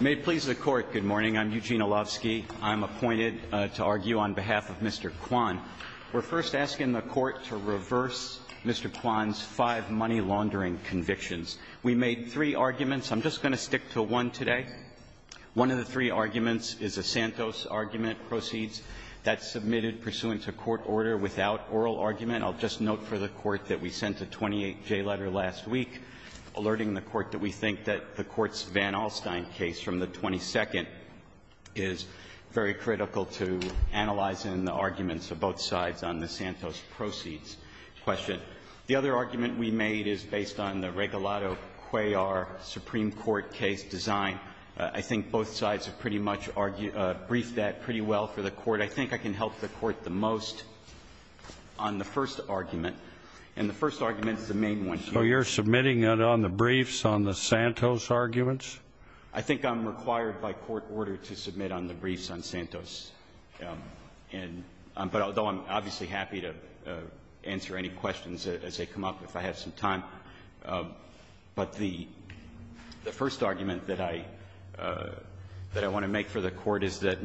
May it please the Court, good morning. I'm Eugene Olofsky. I'm appointed to argue on behalf of Mr. Quan. We're first asking the Court to reverse Mr. Quan's five money-laundering convictions. We made three arguments. I'm just going to stick to one today. One of the three arguments is a Santos argument proceeds that's submitted pursuant to court order without oral argument. I'll just note for the Court that we sent a 28-J letter last week alerting the Court that we think that the Court's Van Alstyne case from the 22nd is very critical to analyzing the arguments of both sides on the Santos proceeds question. The other argument we made is based on the Regalado-Cuellar Supreme Court case design. I think both sides have pretty much briefed that pretty well for the Court. I think I can help the Court the most on the first argument, and the first argument is the Santos arguments. I think I'm required by court order to submit on the briefs on Santos, and but although I'm obviously happy to answer any questions as they come up if I have some time, but the first argument that I want to make for the Court is that,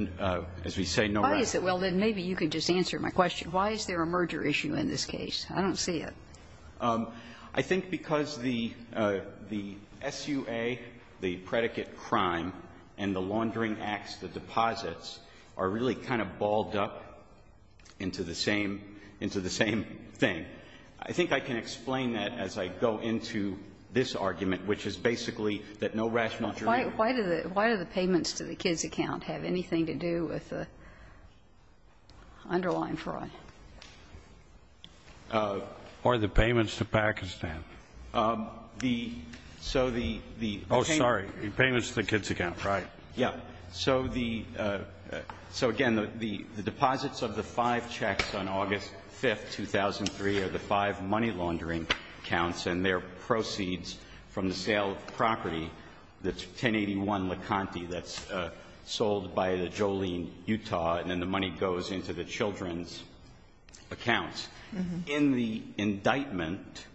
as we say, no rational reason. Why is it? Well, then maybe you could just answer my question. Why is there a merger issue in this case? I don't see it. I think because the SUA, the predicate crime, and the laundering acts, the deposits are really kind of balled up into the same thing. I think I can explain that as I go into this argument, which is basically that no rational reason. Why do the payments to the kids' account have anything to do with the underlying fraud? Or the payments to Pakistan? The so the the Oh, sorry. The payments to the kids' account. Right. Yeah. So the so again, the the deposits of the five checks on August 5th, 2003 are the five money laundering accounts and their proceeds from the sale of property that's 1081 La Conte that's sold by the Jolene, Utah, and then the money goes into the children's accounts. In the indictment,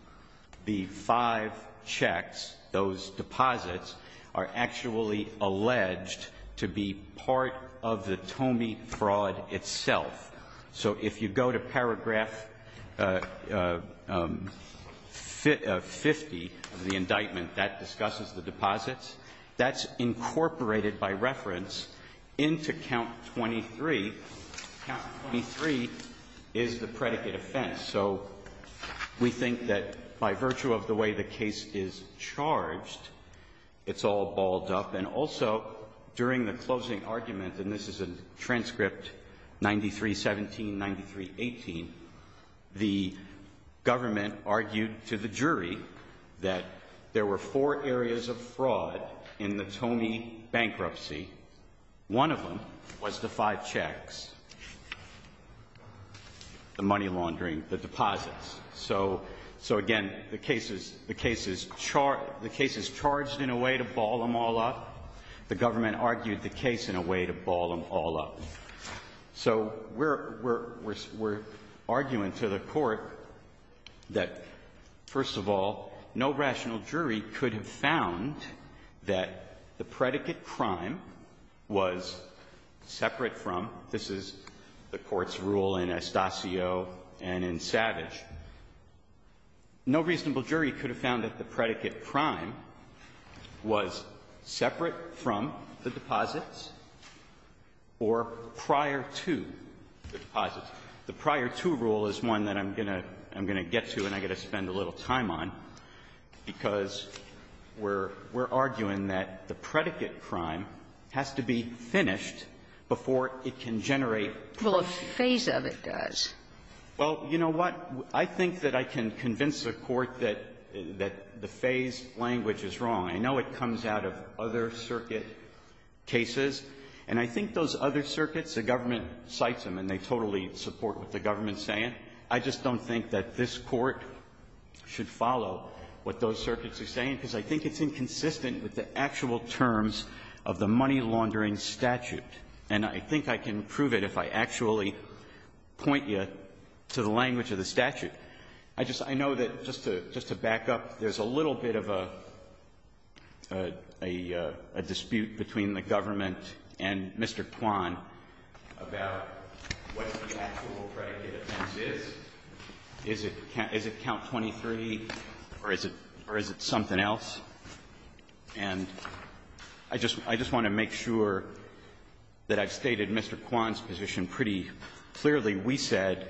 the five checks, those deposits are actually alleged to be part of the Tomei fraud itself. So if you go to paragraph 50 of the indictment, that discusses the deposits, that's incorporated by reference into count 23. Count 23 is the predicate offense. So we think that by virtue of the way the case is charged, it's all balled up. And also, during the closing argument, and this is a transcript 9317, 9318, the government argued to the jury that there were four areas of fraud in the Tomei bankruptcy. One of them was the five checks, the money laundering, the deposits. So so again, the case is the case is charged. The case is charged in a way to ball them all up. The government argued the case in a way to ball them all up. So we're arguing to the court that, first of all, no rational jury could have found that the predicate crime was separate from, this is the court's rule in Estacio and in Savage, no reasonable jury could have found that the predicate crime was separate from the deposits or prior to the deposits. The prior to rule is one that I'm going to get to and I'm going to take a little time on, because we're arguing that the predicate crime has to be finished before it can generate proof. Sotomayor, Well, a phase of it does. Verrilli, Well, you know what? I think that I can convince the court that the phase language is wrong. I know it comes out of other circuit cases. And I think those other circuits, the government cites them and they totally support what the government is saying. I just don't think that this Court should follow what those circuits are saying, because I think it's inconsistent with the actual terms of the money-laundering statute. And I think I can prove it if I actually point you to the language of the statute. I just know that, just to back up, there's a little bit of a dispute between the government and Mr. Kwan about what the actual predicate offense is. Is it count 23, or is it something else? And I just want to make sure that I've stated Mr. Kwan's position pretty clearly. We said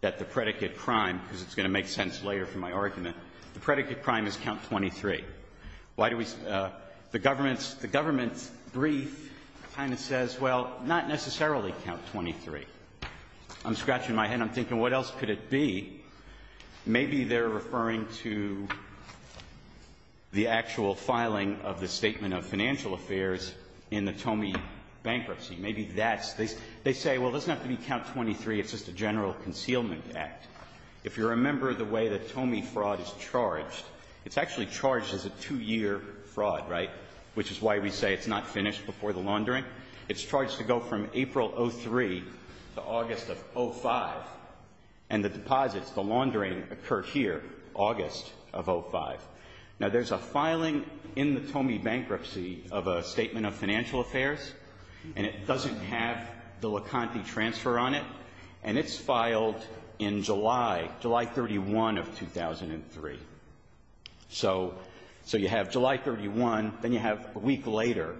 that the predicate crime, because it's going to make sense later for my argument, the predicate crime is count 23. The government's brief kind of says, well, not necessarily count 23. I'm scratching my head. I'm thinking, what else could it be? Maybe they're referring to the actual filing of the Statement of Financial Affairs in the Tomey bankruptcy. Maybe that's the case. They say, well, it doesn't have to be count 23. It's just a general concealment act. If you remember the way the Tomey fraud is charged, it's actually charged as a two-year fraud, right, which is why we say it's not finished before the laundering. It's charged to go from April of 2003 to August of 2005, and the deposits, the laundering, occurred here, August of 2005. Now, there's a filing in the Tomey bankruptcy of a Statement of Financial Affairs, and it doesn't have the Leconte transfer on it, and it's filed in July, July 31 of 2003. So you have July 31, then you have a week later,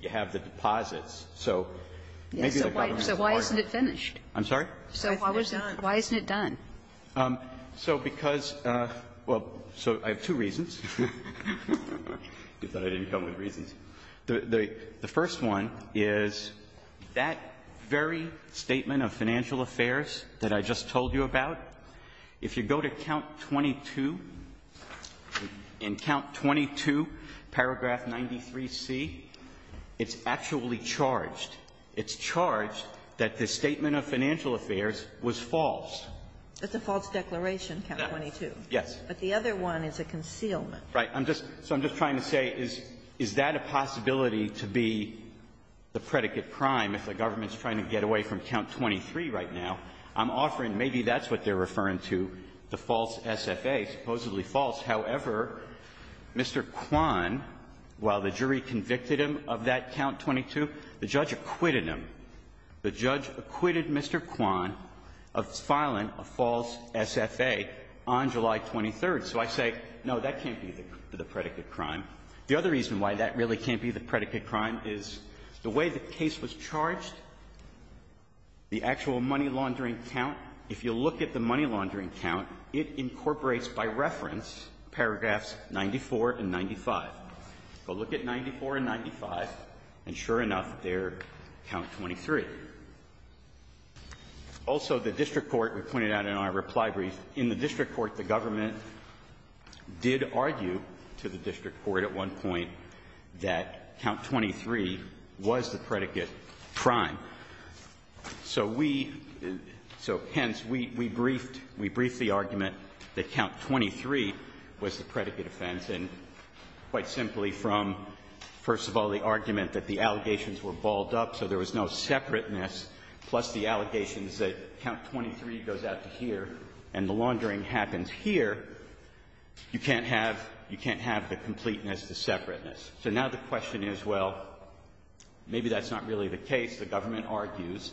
you have the deposits. So maybe the government's part of it. Kagan. So why isn't it finished? I'm sorry? So why isn't it done? So because, well, so I have two reasons. You thought I didn't come with reasons. The first one is that very Statement of Financial Affairs that I just told you about, if you go to count 22, in count 22, paragraph 93C, it's actually charged. It's charged that the Statement of Financial Affairs was false. It's a false declaration, count 22. Yes. But the other one is a concealment. Right. I'm just so I'm just trying to say, is that a possibility to be the predicate crime if the government's trying to get away from count 23 right now? I'm offering maybe that's what they're referring to, the false SFA, supposedly false. However, Mr. Kwan, while the jury convicted him of that count 22, the judge acquitted him. The judge acquitted Mr. Kwan of filing a false SFA on July 23. So I say, no, that can't be the predicate crime. The other reason why that really can't be the predicate crime is the way the case was charged, the actual money laundering count, if you look at the money laundering count, it incorporates, by reference, paragraphs 94 and 95. So look at 94 and 95, and sure enough, they're count 23. Also, the district court, we pointed out in our reply brief, in the district court, the government did argue to the district court at one point that count 23 was the predicate crime. So we, so hence, we, we briefed, we briefed the argument that count 23 was the predicate offense, and quite simply from, first of all, the argument that the allegations were balled up, so there was no separateness, plus the allegations that count 23 goes out to here, and the laundering happens here, you can't have, you can't have the completeness, the separateness. So now the question is, well, maybe that's not really the case. The government argues,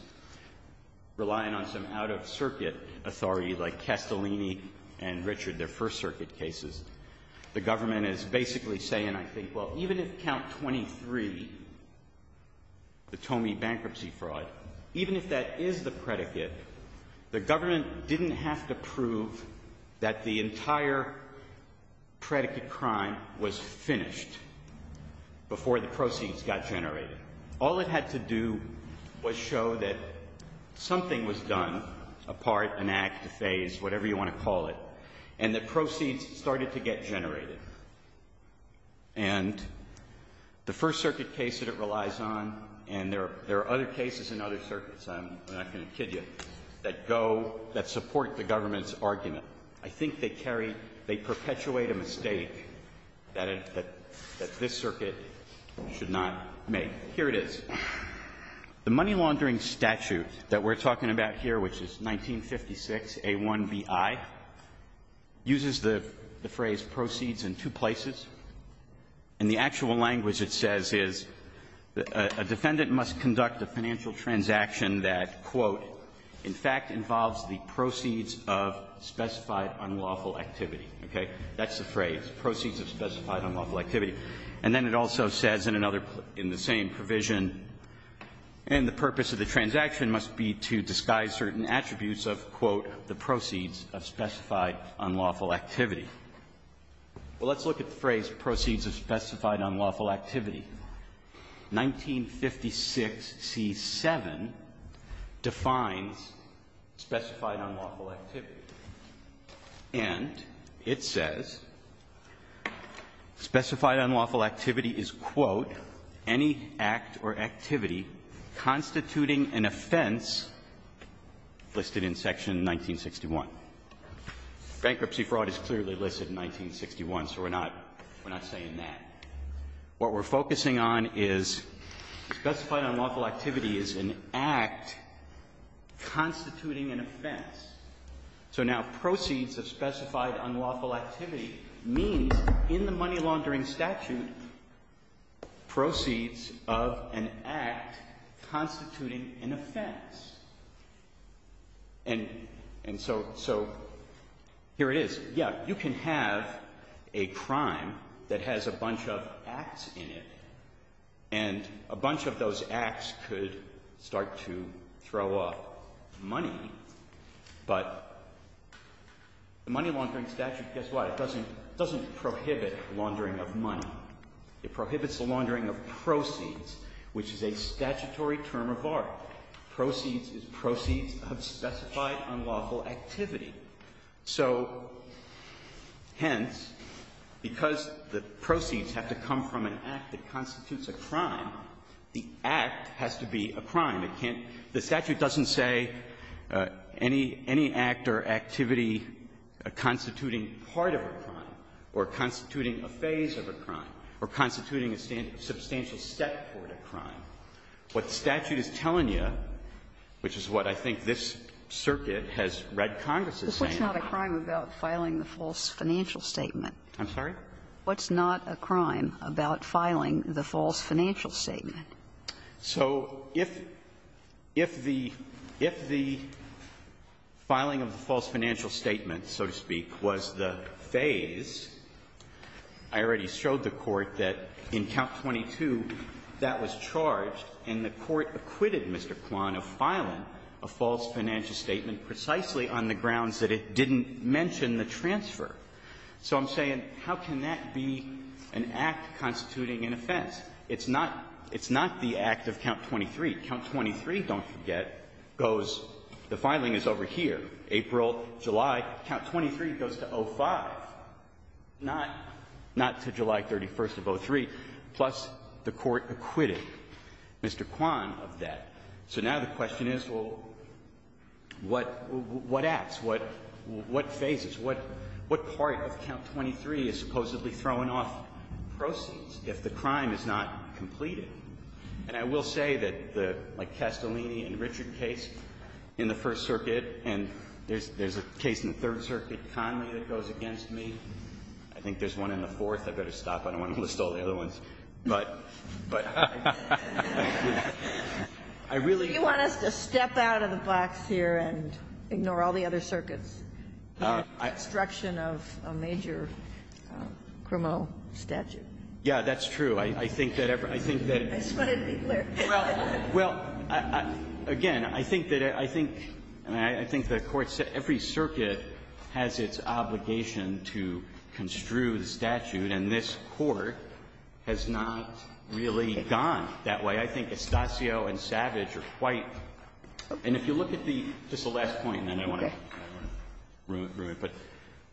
relying on some out-of-circuit authority like Castellini and Richard, their first circuit cases, the government is basically saying, I think, well, even if count 23, the Tome bankruptcy fraud, even if that is the predicate, the government didn't have to prove that the entire predicate crime was finished before the proceeds got generated. All it had to do was show that something was done, a part, an act, a phase, whatever you want to call it, and the proceeds started to get generated. And the first circuit case that relies on, and there are other cases in other circuits, I'm not going to kid you, that go, that support the government's argument. I think they carry, they perpetuate a mistake that this circuit should not make. Here it is. The money laundering statute that we're talking about here, which is 1956A1BI, uses the phrase proceeds in two places. And the actual language it says is, a defendant must conduct a financial transaction that, quote, in fact involves the proceeds of specified unlawful activity. Okay? That's the phrase, proceeds of specified unlawful activity. And then it also says in another, in the same provision, and the purpose of the transaction must be to disguise certain attributes of, quote, the proceeds of specified unlawful activity. Well, let's look at the phrase proceeds of specified unlawful activity. 1956C7 defines specified unlawful activity. And it says specified unlawful activity is, quote, any act or activity constituting an offense listed in Section 1961. Bankruptcy fraud is clearly listed in 1961, so we're not, we're not saying that. What we're focusing on is specified unlawful activity is an act constituting an offense. So now proceeds of specified unlawful activity means in the money laundering statute, proceeds of an act constituting an offense. And, and so, so here it is. Yeah, you can have a crime that has a bunch of acts in it, and a bunch of those acts could start to throw up money, but the money laundering statute, guess what? It doesn't, doesn't prohibit laundering of money. It prohibits the laundering of proceeds, which is a statutory term of art. Proceeds of specified unlawful activity. So, hence, because the proceeds have to come from an act that constitutes a crime, the act has to be a crime. It can't, the statute doesn't say any, any act or activity constituting part of a crime, or constituting a phase of a crime, or constituting a substantial step toward a crime. What the statute is telling you, which is what I think this circuit has read Congress as saying. But what's not a crime about filing the false financial statement? I'm sorry? What's not a crime about filing the false financial statement? So if, if the, if the filing of the false financial statement, so to speak, was the phase, I already showed the Court that in Count 22, that was charged, and the Court acquitted Mr. Kwan of filing a false financial statement precisely on the grounds that it didn't mention the transfer. So I'm saying, how can that be an act constituting an offense? It's not, it's not the act of Count 23. Count 23, don't forget, goes the filing is over here, April, July. Count 23 goes to 05, not, not to July 31st of 03. Plus, the Court acquitted Mr. Kwan of that. So now the question is, well, what, what acts? What, what phases? What, what part of Count 23 is supposedly throwing off proceeds if the crime is not completed? And I will say that the, like, Castellini and Richard case in the First Circuit, and there's, there's a case in the Third Circuit, Conley, that goes against me. I think there's one in the Fourth. I better stop. I don't want to list all the other ones. But, but I really do. Do you want us to step out of the box here and ignore all the other circuits in the construction of a major criminal statute? Yeah, that's true. I, I think that every, I think that. I just wanted to be clear. Well, well, again, I think that it, I think, and I, I think the Court said every circuit has its obligation to construe the statute, and this Court has not really gone that way. I think Estacio and Savage are quite, and if you look at the, just the last point, and then I want to, I want to ruin it, but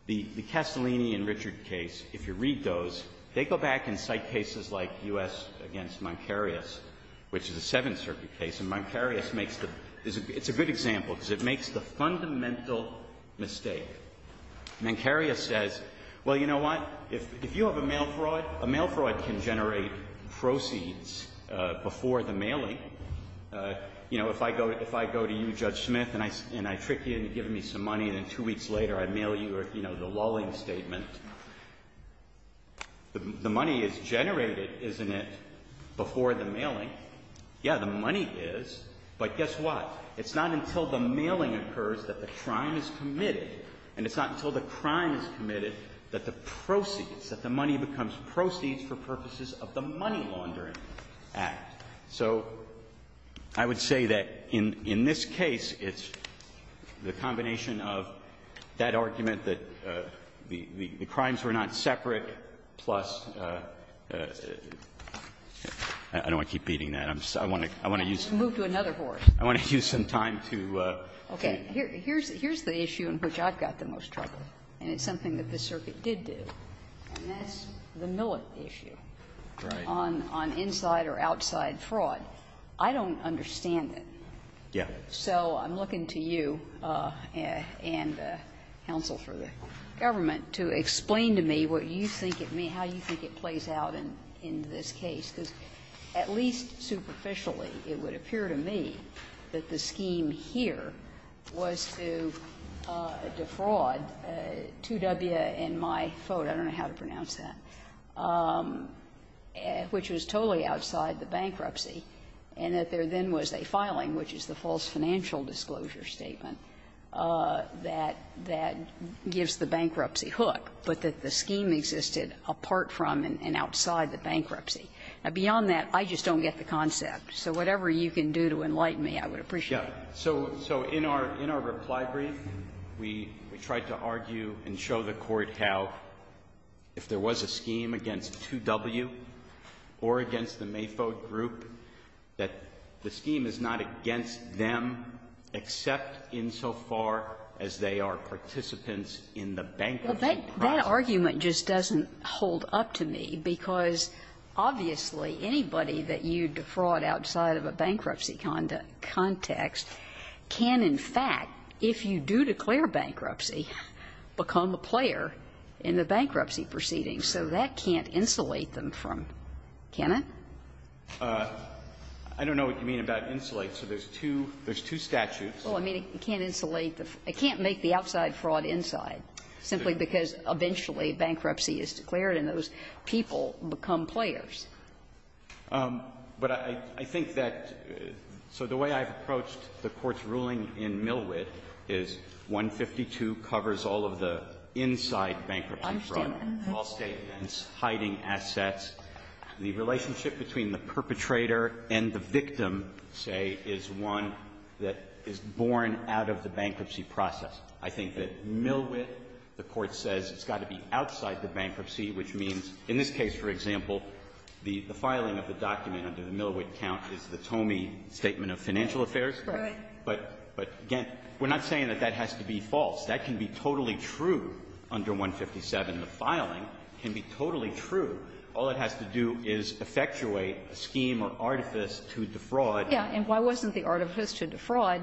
the, the Castellini and Richard case, if you read those, they go back and cite cases like U.S. against Mancarius, which is a Seventh Circuit case, and Mancarius makes the, it's a good example because it makes the fundamental mistake. Mancarius says, well, you know what, if, if you have a mail fraud, a mail fraud can generate proceeds before the mailing. You know, if I go, if I go to you, Judge Smith, and I, and I trick you into giving me some money, and then two weeks later I mail you, you know, the lulling statement, the, the money is generated, isn't it, before the mailing? Yeah, the money is, but guess what? It's not until the mailing occurs that the crime is committed, and it's not until the crime is committed that the proceeds, that the money becomes proceeds for purposes of the money laundering act. So I would say that in, in this case, it's the combination of that argument that the, the crimes were not separate, plus, I don't want to keep beating that. I'm just, I want to, I want to use. Kagan. Let's move to another horse. I want to use some time to. Okay. Here, here's, here's the issue in which I've got the most trouble, and it's something that the circuit did do, and that's the Millett issue. Right. On, on inside or outside fraud, I don't understand it. Yeah. So I'm looking to you and counsel for the government to explain to me what you think it may, how you think it plays out in, in this case, because at least superficially it would appear to me that the scheme here was to defraud 2W and my phone, I don't get the concept. So whatever you can do to enlighten me, I would appreciate it. Yeah. So, so in our, in our reply brief, we, we tried to argue and show the Court how if there was a scheme against 2W or against the Mayfoe group, that the scheme is not against them except insofar as they are participants in the bankruptcy process. Well, that, that argument just doesn't hold up to me, because obviously anybody that you defraud outside of a bankruptcy context can, in fact, if you do declare a bankruptcy, become a player in the bankruptcy proceedings. So that can't insulate them from, can it? I don't know what you mean about insulate. So there's two, there's two statutes. Well, I mean, it can't insulate the, it can't make the outside fraud inside, simply because eventually bankruptcy is declared and those people become players. But I, I think that, so the way I've approached the Court's ruling in Millwid is 152 covers all of the inside bankruptcy fraud. All statements, hiding assets. The relationship between the perpetrator and the victim, say, is one that is borne out of the bankruptcy process. I think that Millwid, the Court says, has got to be outside the bankruptcy, which means in this case, for example, the filing of the document under the Millwid Right. But, but again, we're not saying that that has to be false. That can be totally true under 157. The filing can be totally true. All it has to do is effectuate a scheme or artifice to defraud. Yeah. And why wasn't the artifice to defraud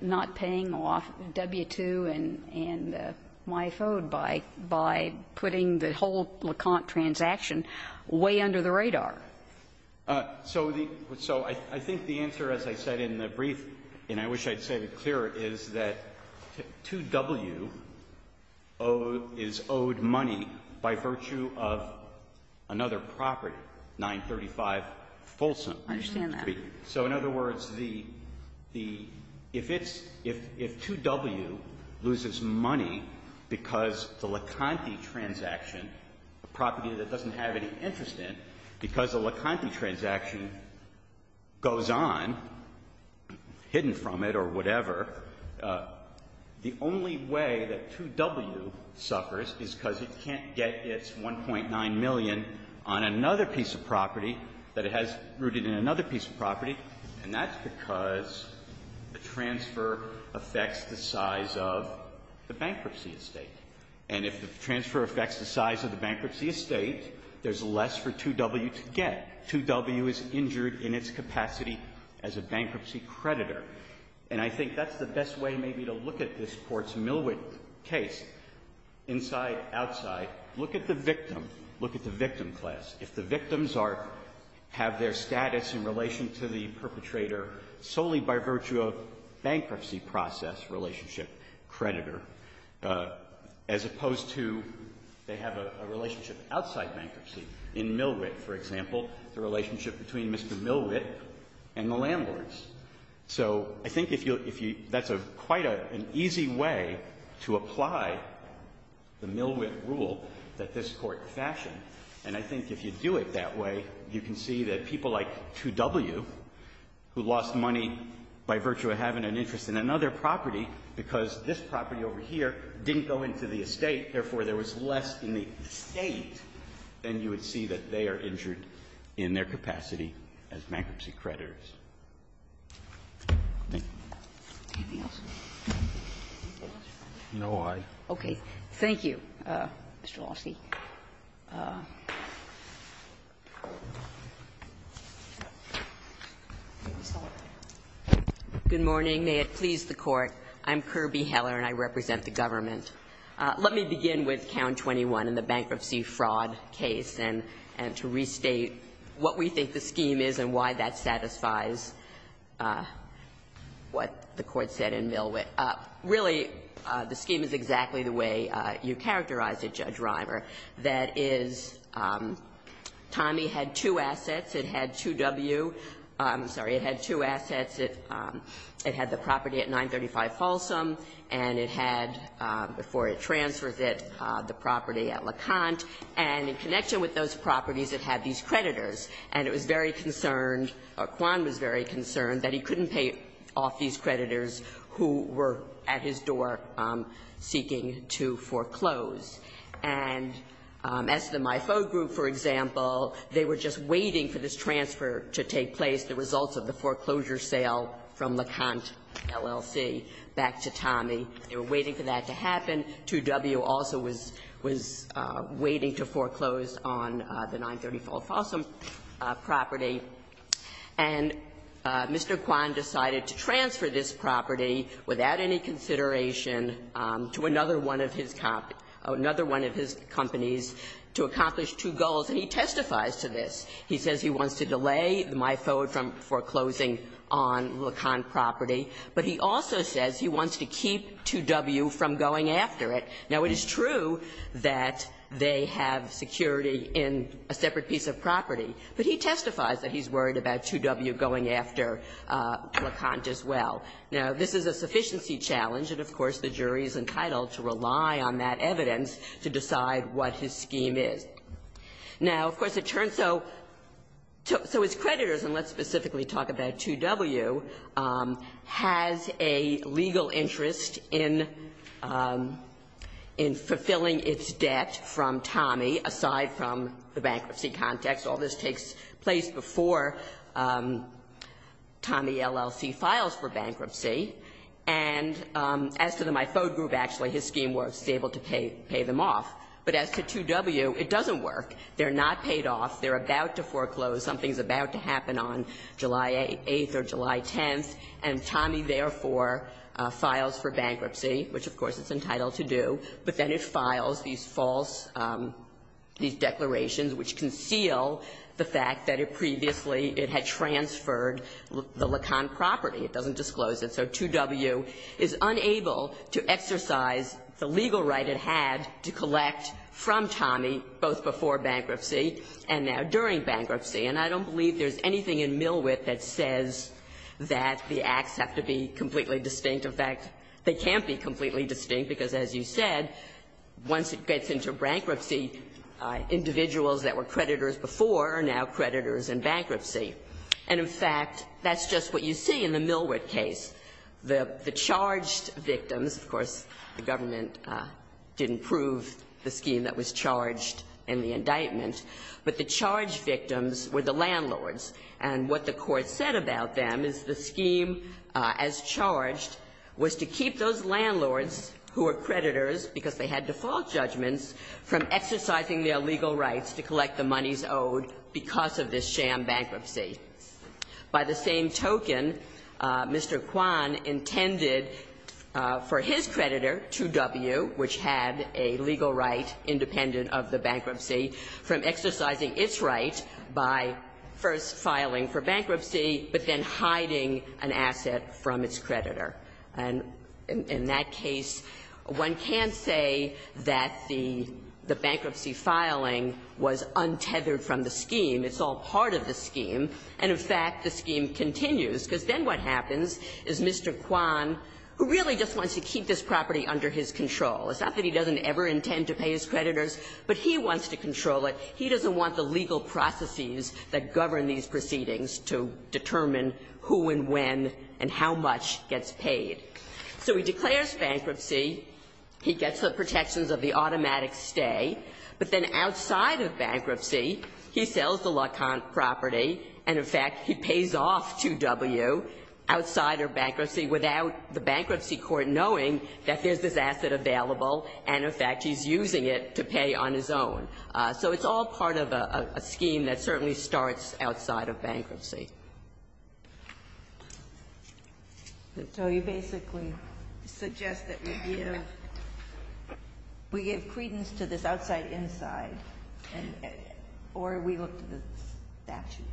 not paying off W-2 and, and MiFoAD by, by putting the whole Leconte transaction way under the radar? So the, so I, I think the answer, as I said in the brief, and I wish I'd say it clearer, is that 2W is owed money by virtue of another property, 935 Folsom. I understand that. So in other words, the, the, if it's, if, if 2W loses money because the Leconte transaction, a property that doesn't have any interest in, because the Leconte transaction goes on, hidden from it or whatever, the only way that 2W suffers is because it can't get its 1.9 million on another piece of property that it has rooted in another piece of property, and that's because the transfer affects the size of the bankruptcy estate. And if the transfer affects the size of the bankruptcy estate, there's less for 2W to get. 2W is injured in its capacity as a bankruptcy creditor. And I think that's the best way maybe to look at this Courts Millwick case, inside, outside. Look at the victim. Look at the victim class. If the victims are, have their status in relation to the perpetrator solely by virtue of bankruptcy process relationship creditor, as opposed to they have a, a relationship outside bankruptcy in Millwick, for example, the relationship between Mr. Millwick and the landlords. So I think if you, if you, that's a, quite a, an easy way to apply the Millwick rule that this Court fashioned. And I think if you do it that way, you can see that people like 2W, who lost money by virtue of having an interest in another property, because this property over here didn't go into the estate, therefore, there was less in the estate, then you would see that they are injured in their capacity as bankruptcy creditors. Thank you. Anything else? No, I. Okay. Thank you, Mr. Lawski. Ms. Hallert. Good morning. May it please the Court. I'm Kirby Heller, and I represent the government. Let me begin with Count 21 in the bankruptcy fraud case and, and to restate what we think the scheme is and why that satisfies what the Court said in Millwick. Really, the scheme is exactly the way you characterized it, Judge Reimer. That is, Tommy had two assets. It had 2W. I'm sorry. It had two assets. It had the property at 935 Folsom, and it had, before it transfers it, the property at LeConte. And in connection with those properties, it had these creditors. And it was very concerned, or Quan was very concerned, that he couldn't pay off these creditors who were at his door seeking to foreclose. And as the MIFO group, for example, they were just waiting for this transfer to take place, the results of the foreclosure sale from LeConte LLC back to Tommy. They were waiting for that to happen. 2W also was, was waiting to foreclose on the 935 Folsom property. And Mr. Quan decided to transfer this property without any consideration to another one of his companies to accomplish two goals. And he testifies to this. He says he wants to delay MIFO from foreclosing on LeConte property, but he also says he wants to keep 2W from going after it. Now, it is true that they have security in a separate piece of property, but he testifies that he's worried about 2W going after LeConte as well. Now, this is a sufficiency challenge, and of course, the jury is entitled to rely on that evidence to decide what his scheme is. Now, of course, it turns out, so his creditors, and let's specifically talk about 2W, has a legal interest in, in fulfilling its debt from Tommy, aside from the bankruptcy context. All this takes place before Tommy, LLC, files for bankruptcy. And as to the MIFO group, actually, his scheme works, is able to pay, pay them off. But as to 2W, it doesn't work. They're not paid off. They're about to foreclose. Something's about to happen on July 8th or July 10th, and Tommy, therefore, files for bankruptcy, which, of course, it's entitled to do. But then it files these false, these declarations which conceal the fact that it previously had transferred the LeConte property. It doesn't disclose it. So 2W is unable to exercise the legal right it had to collect from Tommy, both before bankruptcy and now during bankruptcy. And I don't believe there's anything in Millwhip that says that the acts have to be completely distinct. In fact, they can't be completely distinct because, as you said, once it gets into bankruptcy, individuals that were creditors before are now creditors in bankruptcy. And, in fact, that's just what you see in the Millwhip case. The charged victims, of course, the government didn't prove the scheme that was charged in the indictment, but the charged victims were the landlords. And what the Court said about them is the scheme as charged was to keep those landlords who are creditors because they had default judgments from exercising their legal rights to collect the monies owed because of this sham bankruptcy. By the same token, Mr. Kwan intended for his creditor, 2W, which had a legal right for filing for bankruptcy, but then hiding an asset from its creditor. And in that case, one can't say that the bankruptcy filing was untethered from the scheme. It's all part of the scheme. And, in fact, the scheme continues, because then what happens is Mr. Kwan, who really just wants to keep this property under his control, it's not that he doesn't ever intend to pay his creditors, but he wants to control it, he doesn't want the legal processes that govern these proceedings to determine who and when and how much gets paid. So he declares bankruptcy, he gets the protections of the automatic stay, but then outside of bankruptcy, he sells the LeConte property, and, in fact, he pays off 2W outside of bankruptcy without the bankruptcy court knowing that there's this asset available, and, in fact, he's using it to pay on his own. So it's all part of a scheme that certainly starts outside of bankruptcy. Ginsburg. So you basically suggest that we give credence to this outside-inside, or we look to the statute?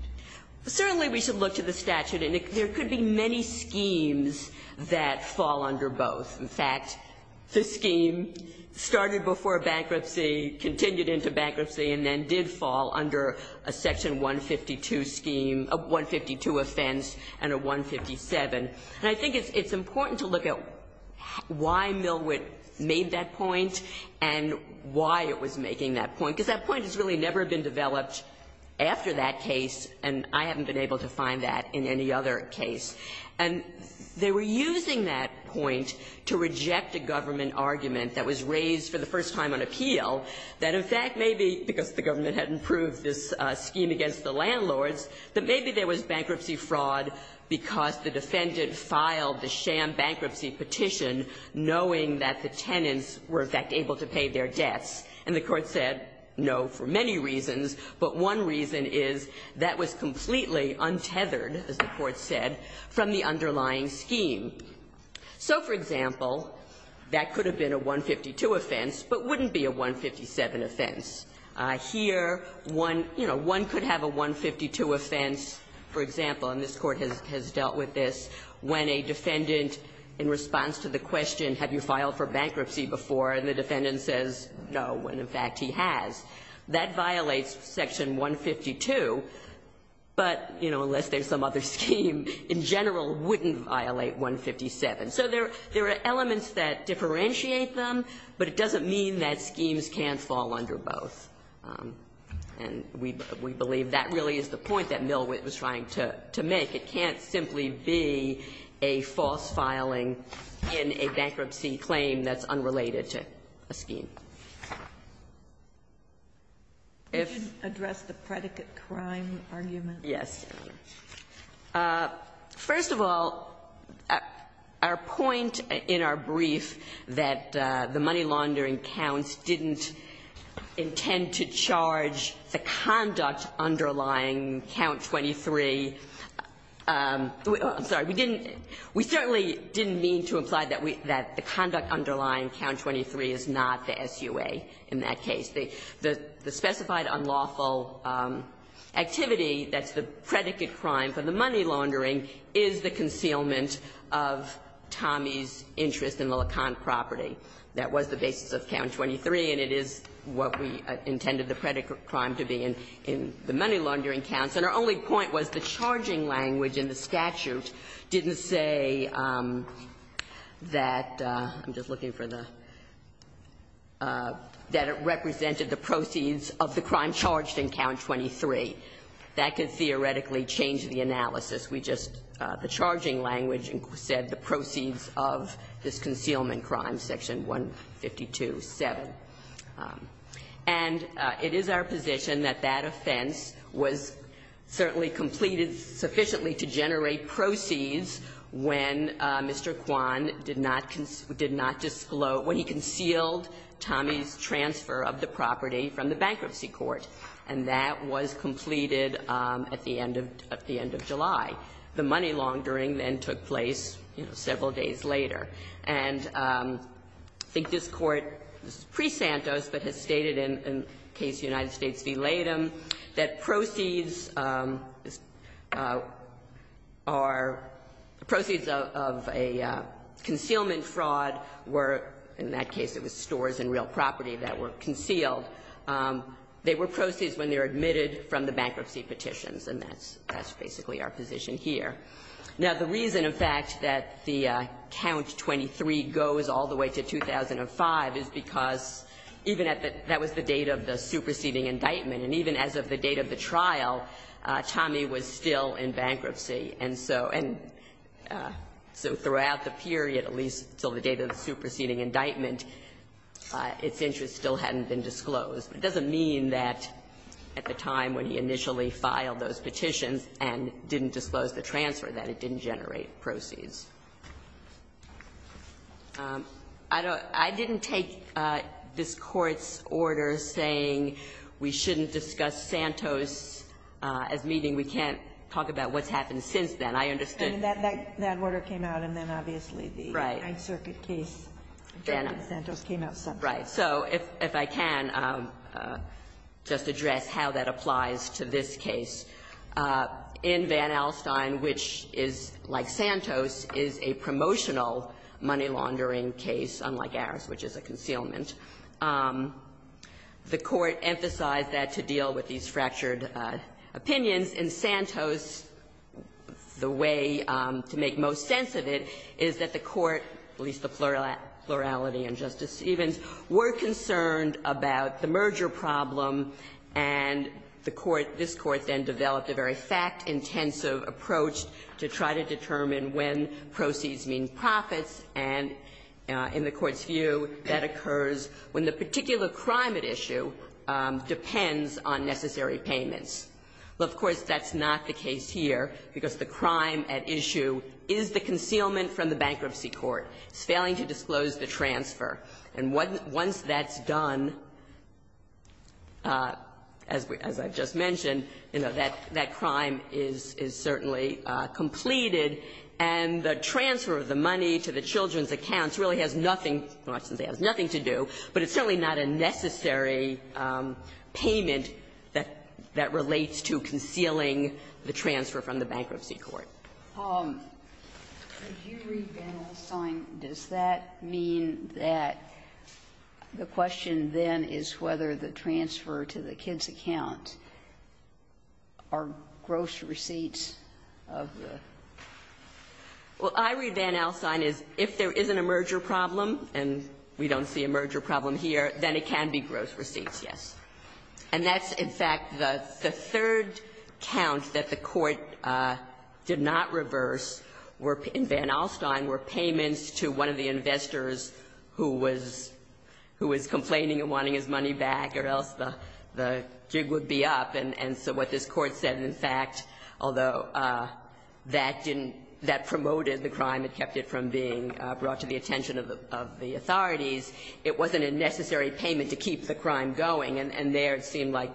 Certainly, we should look to the statute, and there could be many schemes that fall under both. In fact, the scheme started before bankruptcy, continued into bankruptcy, and then did fall under a Section 152 scheme, a 152 offense and a 157. And I think it's important to look at why Milwitt made that point and why it was making that point, because that point has really never been developed after that case, and I haven't been able to find that in any other case. And they were using that point to reject a government argument that was raised for the first time on appeal, that, in fact, maybe because the government had improved this scheme against the landlords, that maybe there was bankruptcy fraud because the defendant filed the sham bankruptcy petition knowing that the tenants were, in fact, able to pay their debts. And the Court said no for many reasons, but one reason is that was completely untethered, as the Court said, from the underlying scheme. So, for example, that could have been a 152 offense, but wouldn't be a 157 offense. Here, one, you know, one could have a 152 offense, for example, and this Court has dealt with this, when a defendant, in response to the question, have you filed for bankruptcy before, and the defendant says no, when, in fact, he has. That violates section 152, but, you know, unless there's some other scheme in general, wouldn't violate 157. So there are elements that differentiate them, but it doesn't mean that schemes can't fall under both. And we believe that really is the point that Milwitt was trying to make. It can't simply be a false filing in a bankruptcy claim that's unrelated to a scheme. If you can address the predicate crime argument. Yes. First of all, our point in our brief that the money laundering counts didn't intend to charge the conduct underlying count 23. I'm sorry. We didn't we certainly didn't mean to imply that the conduct underlying count 23 is not the SUA in that case. The specified unlawful activity that's the predicate crime for the money laundering is the concealment of Tommy's interest in the LeConte property. That was the basis of count 23, and it is what we intended the predicate crime to be in the money laundering counts. And our only point was the charging language in the statute didn't say that, I'm just looking for the, that it represented the proceeds of the crime charged in count 23. That could theoretically change the analysis. We just, the charging language said the proceeds of this concealment crime, section 152.7. And it is our position that that offense was certainly completed sufficiently to generate proceeds when Mr. Kwan did not, did not disclose, when he concealed Tommy's transfer of the property from the bankruptcy court. And that was completed at the end of, at the end of July. The money laundering then took place, you know, several days later. And I think this Court, this is pre-Santos, but has stated in the case of the United States, that our proceeds of a concealment fraud were, in that case it was stores and real property that were concealed. They were proceeds when they were admitted from the bankruptcy petitions, and that's basically our position here. Now, the reason, in fact, that the count 23 goes all the way to 2005 is because even at the, that was the date of the superseding indictment. And even as of the date of the trial, Tommy was still in bankruptcy. And so, and so throughout the period, at least until the date of the superseding indictment, its interest still hadn't been disclosed. It doesn't mean that at the time when he initially filed those petitions and didn't disclose the transfer, that it didn't generate proceeds. I don't, I didn't take this Court's order saying we shouldn't discuss Santos as meeting. We can't talk about what's happened since then. I understood. Ginsburg. I mean, that, that order came out, and then obviously the Ninth Circuit case, Santos came out separately. Right. So if I can just address how that applies to this case. In Van Alstyne, which is, like Santos, is a promotional money laundering case, unlike ours, which is a concealment. The Court emphasized that to deal with these fractured opinions. In Santos, the way to make most sense of it is that the Court, at least the plurality in Justice Stevens, were concerned about the merger problem, and the Court, this Court then developed a very fact-intensive approach to try to determine when proceeds mean profits, and in the Court's view, that occurs when the particular crime at issue depends on necessary payments. Well, of course, that's not the case here, because the crime at issue is the concealment from the bankruptcy court. It's failing to disclose the transfer. And once that's done, as I've just mentioned, you know, that crime is certainly completed, and the transfer of the money to the children's accounts really has nothing to do, but it's certainly not a necessary payment that relates to concealing the transfer from the bankruptcy court. Sotomayor, would you read Van Alstyne? Does that mean that the question then is whether the transfer to the kids' account are gross receipts of the? Well, I read Van Alstyne as if there isn't a merger problem, and we don't see a merger problem here, then it can be gross receipts, yes. And that's, in fact, the third count that the Court did not reverse in Van Alstyne were payments to one of the investors who was complaining of wanting his money back or else the jig would be up. And so what this Court said, in fact, although that promoted the crime, it kept it from being brought to the attention of the authorities, it wasn't a necessary payment to keep the crime going, and there it seemed like,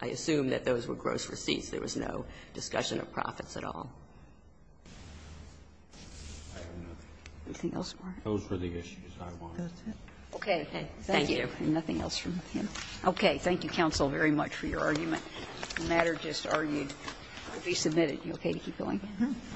I assume, that those were gross receipts. There was no discussion of profits at all. Anything else, Mark? Those were the issues I wanted. Okay. Thank you. Nothing else from him. Okay. Thank you, counsel, very much for your argument. The matter just argued to be submitted. Are you okay to keep going? Mm-hmm.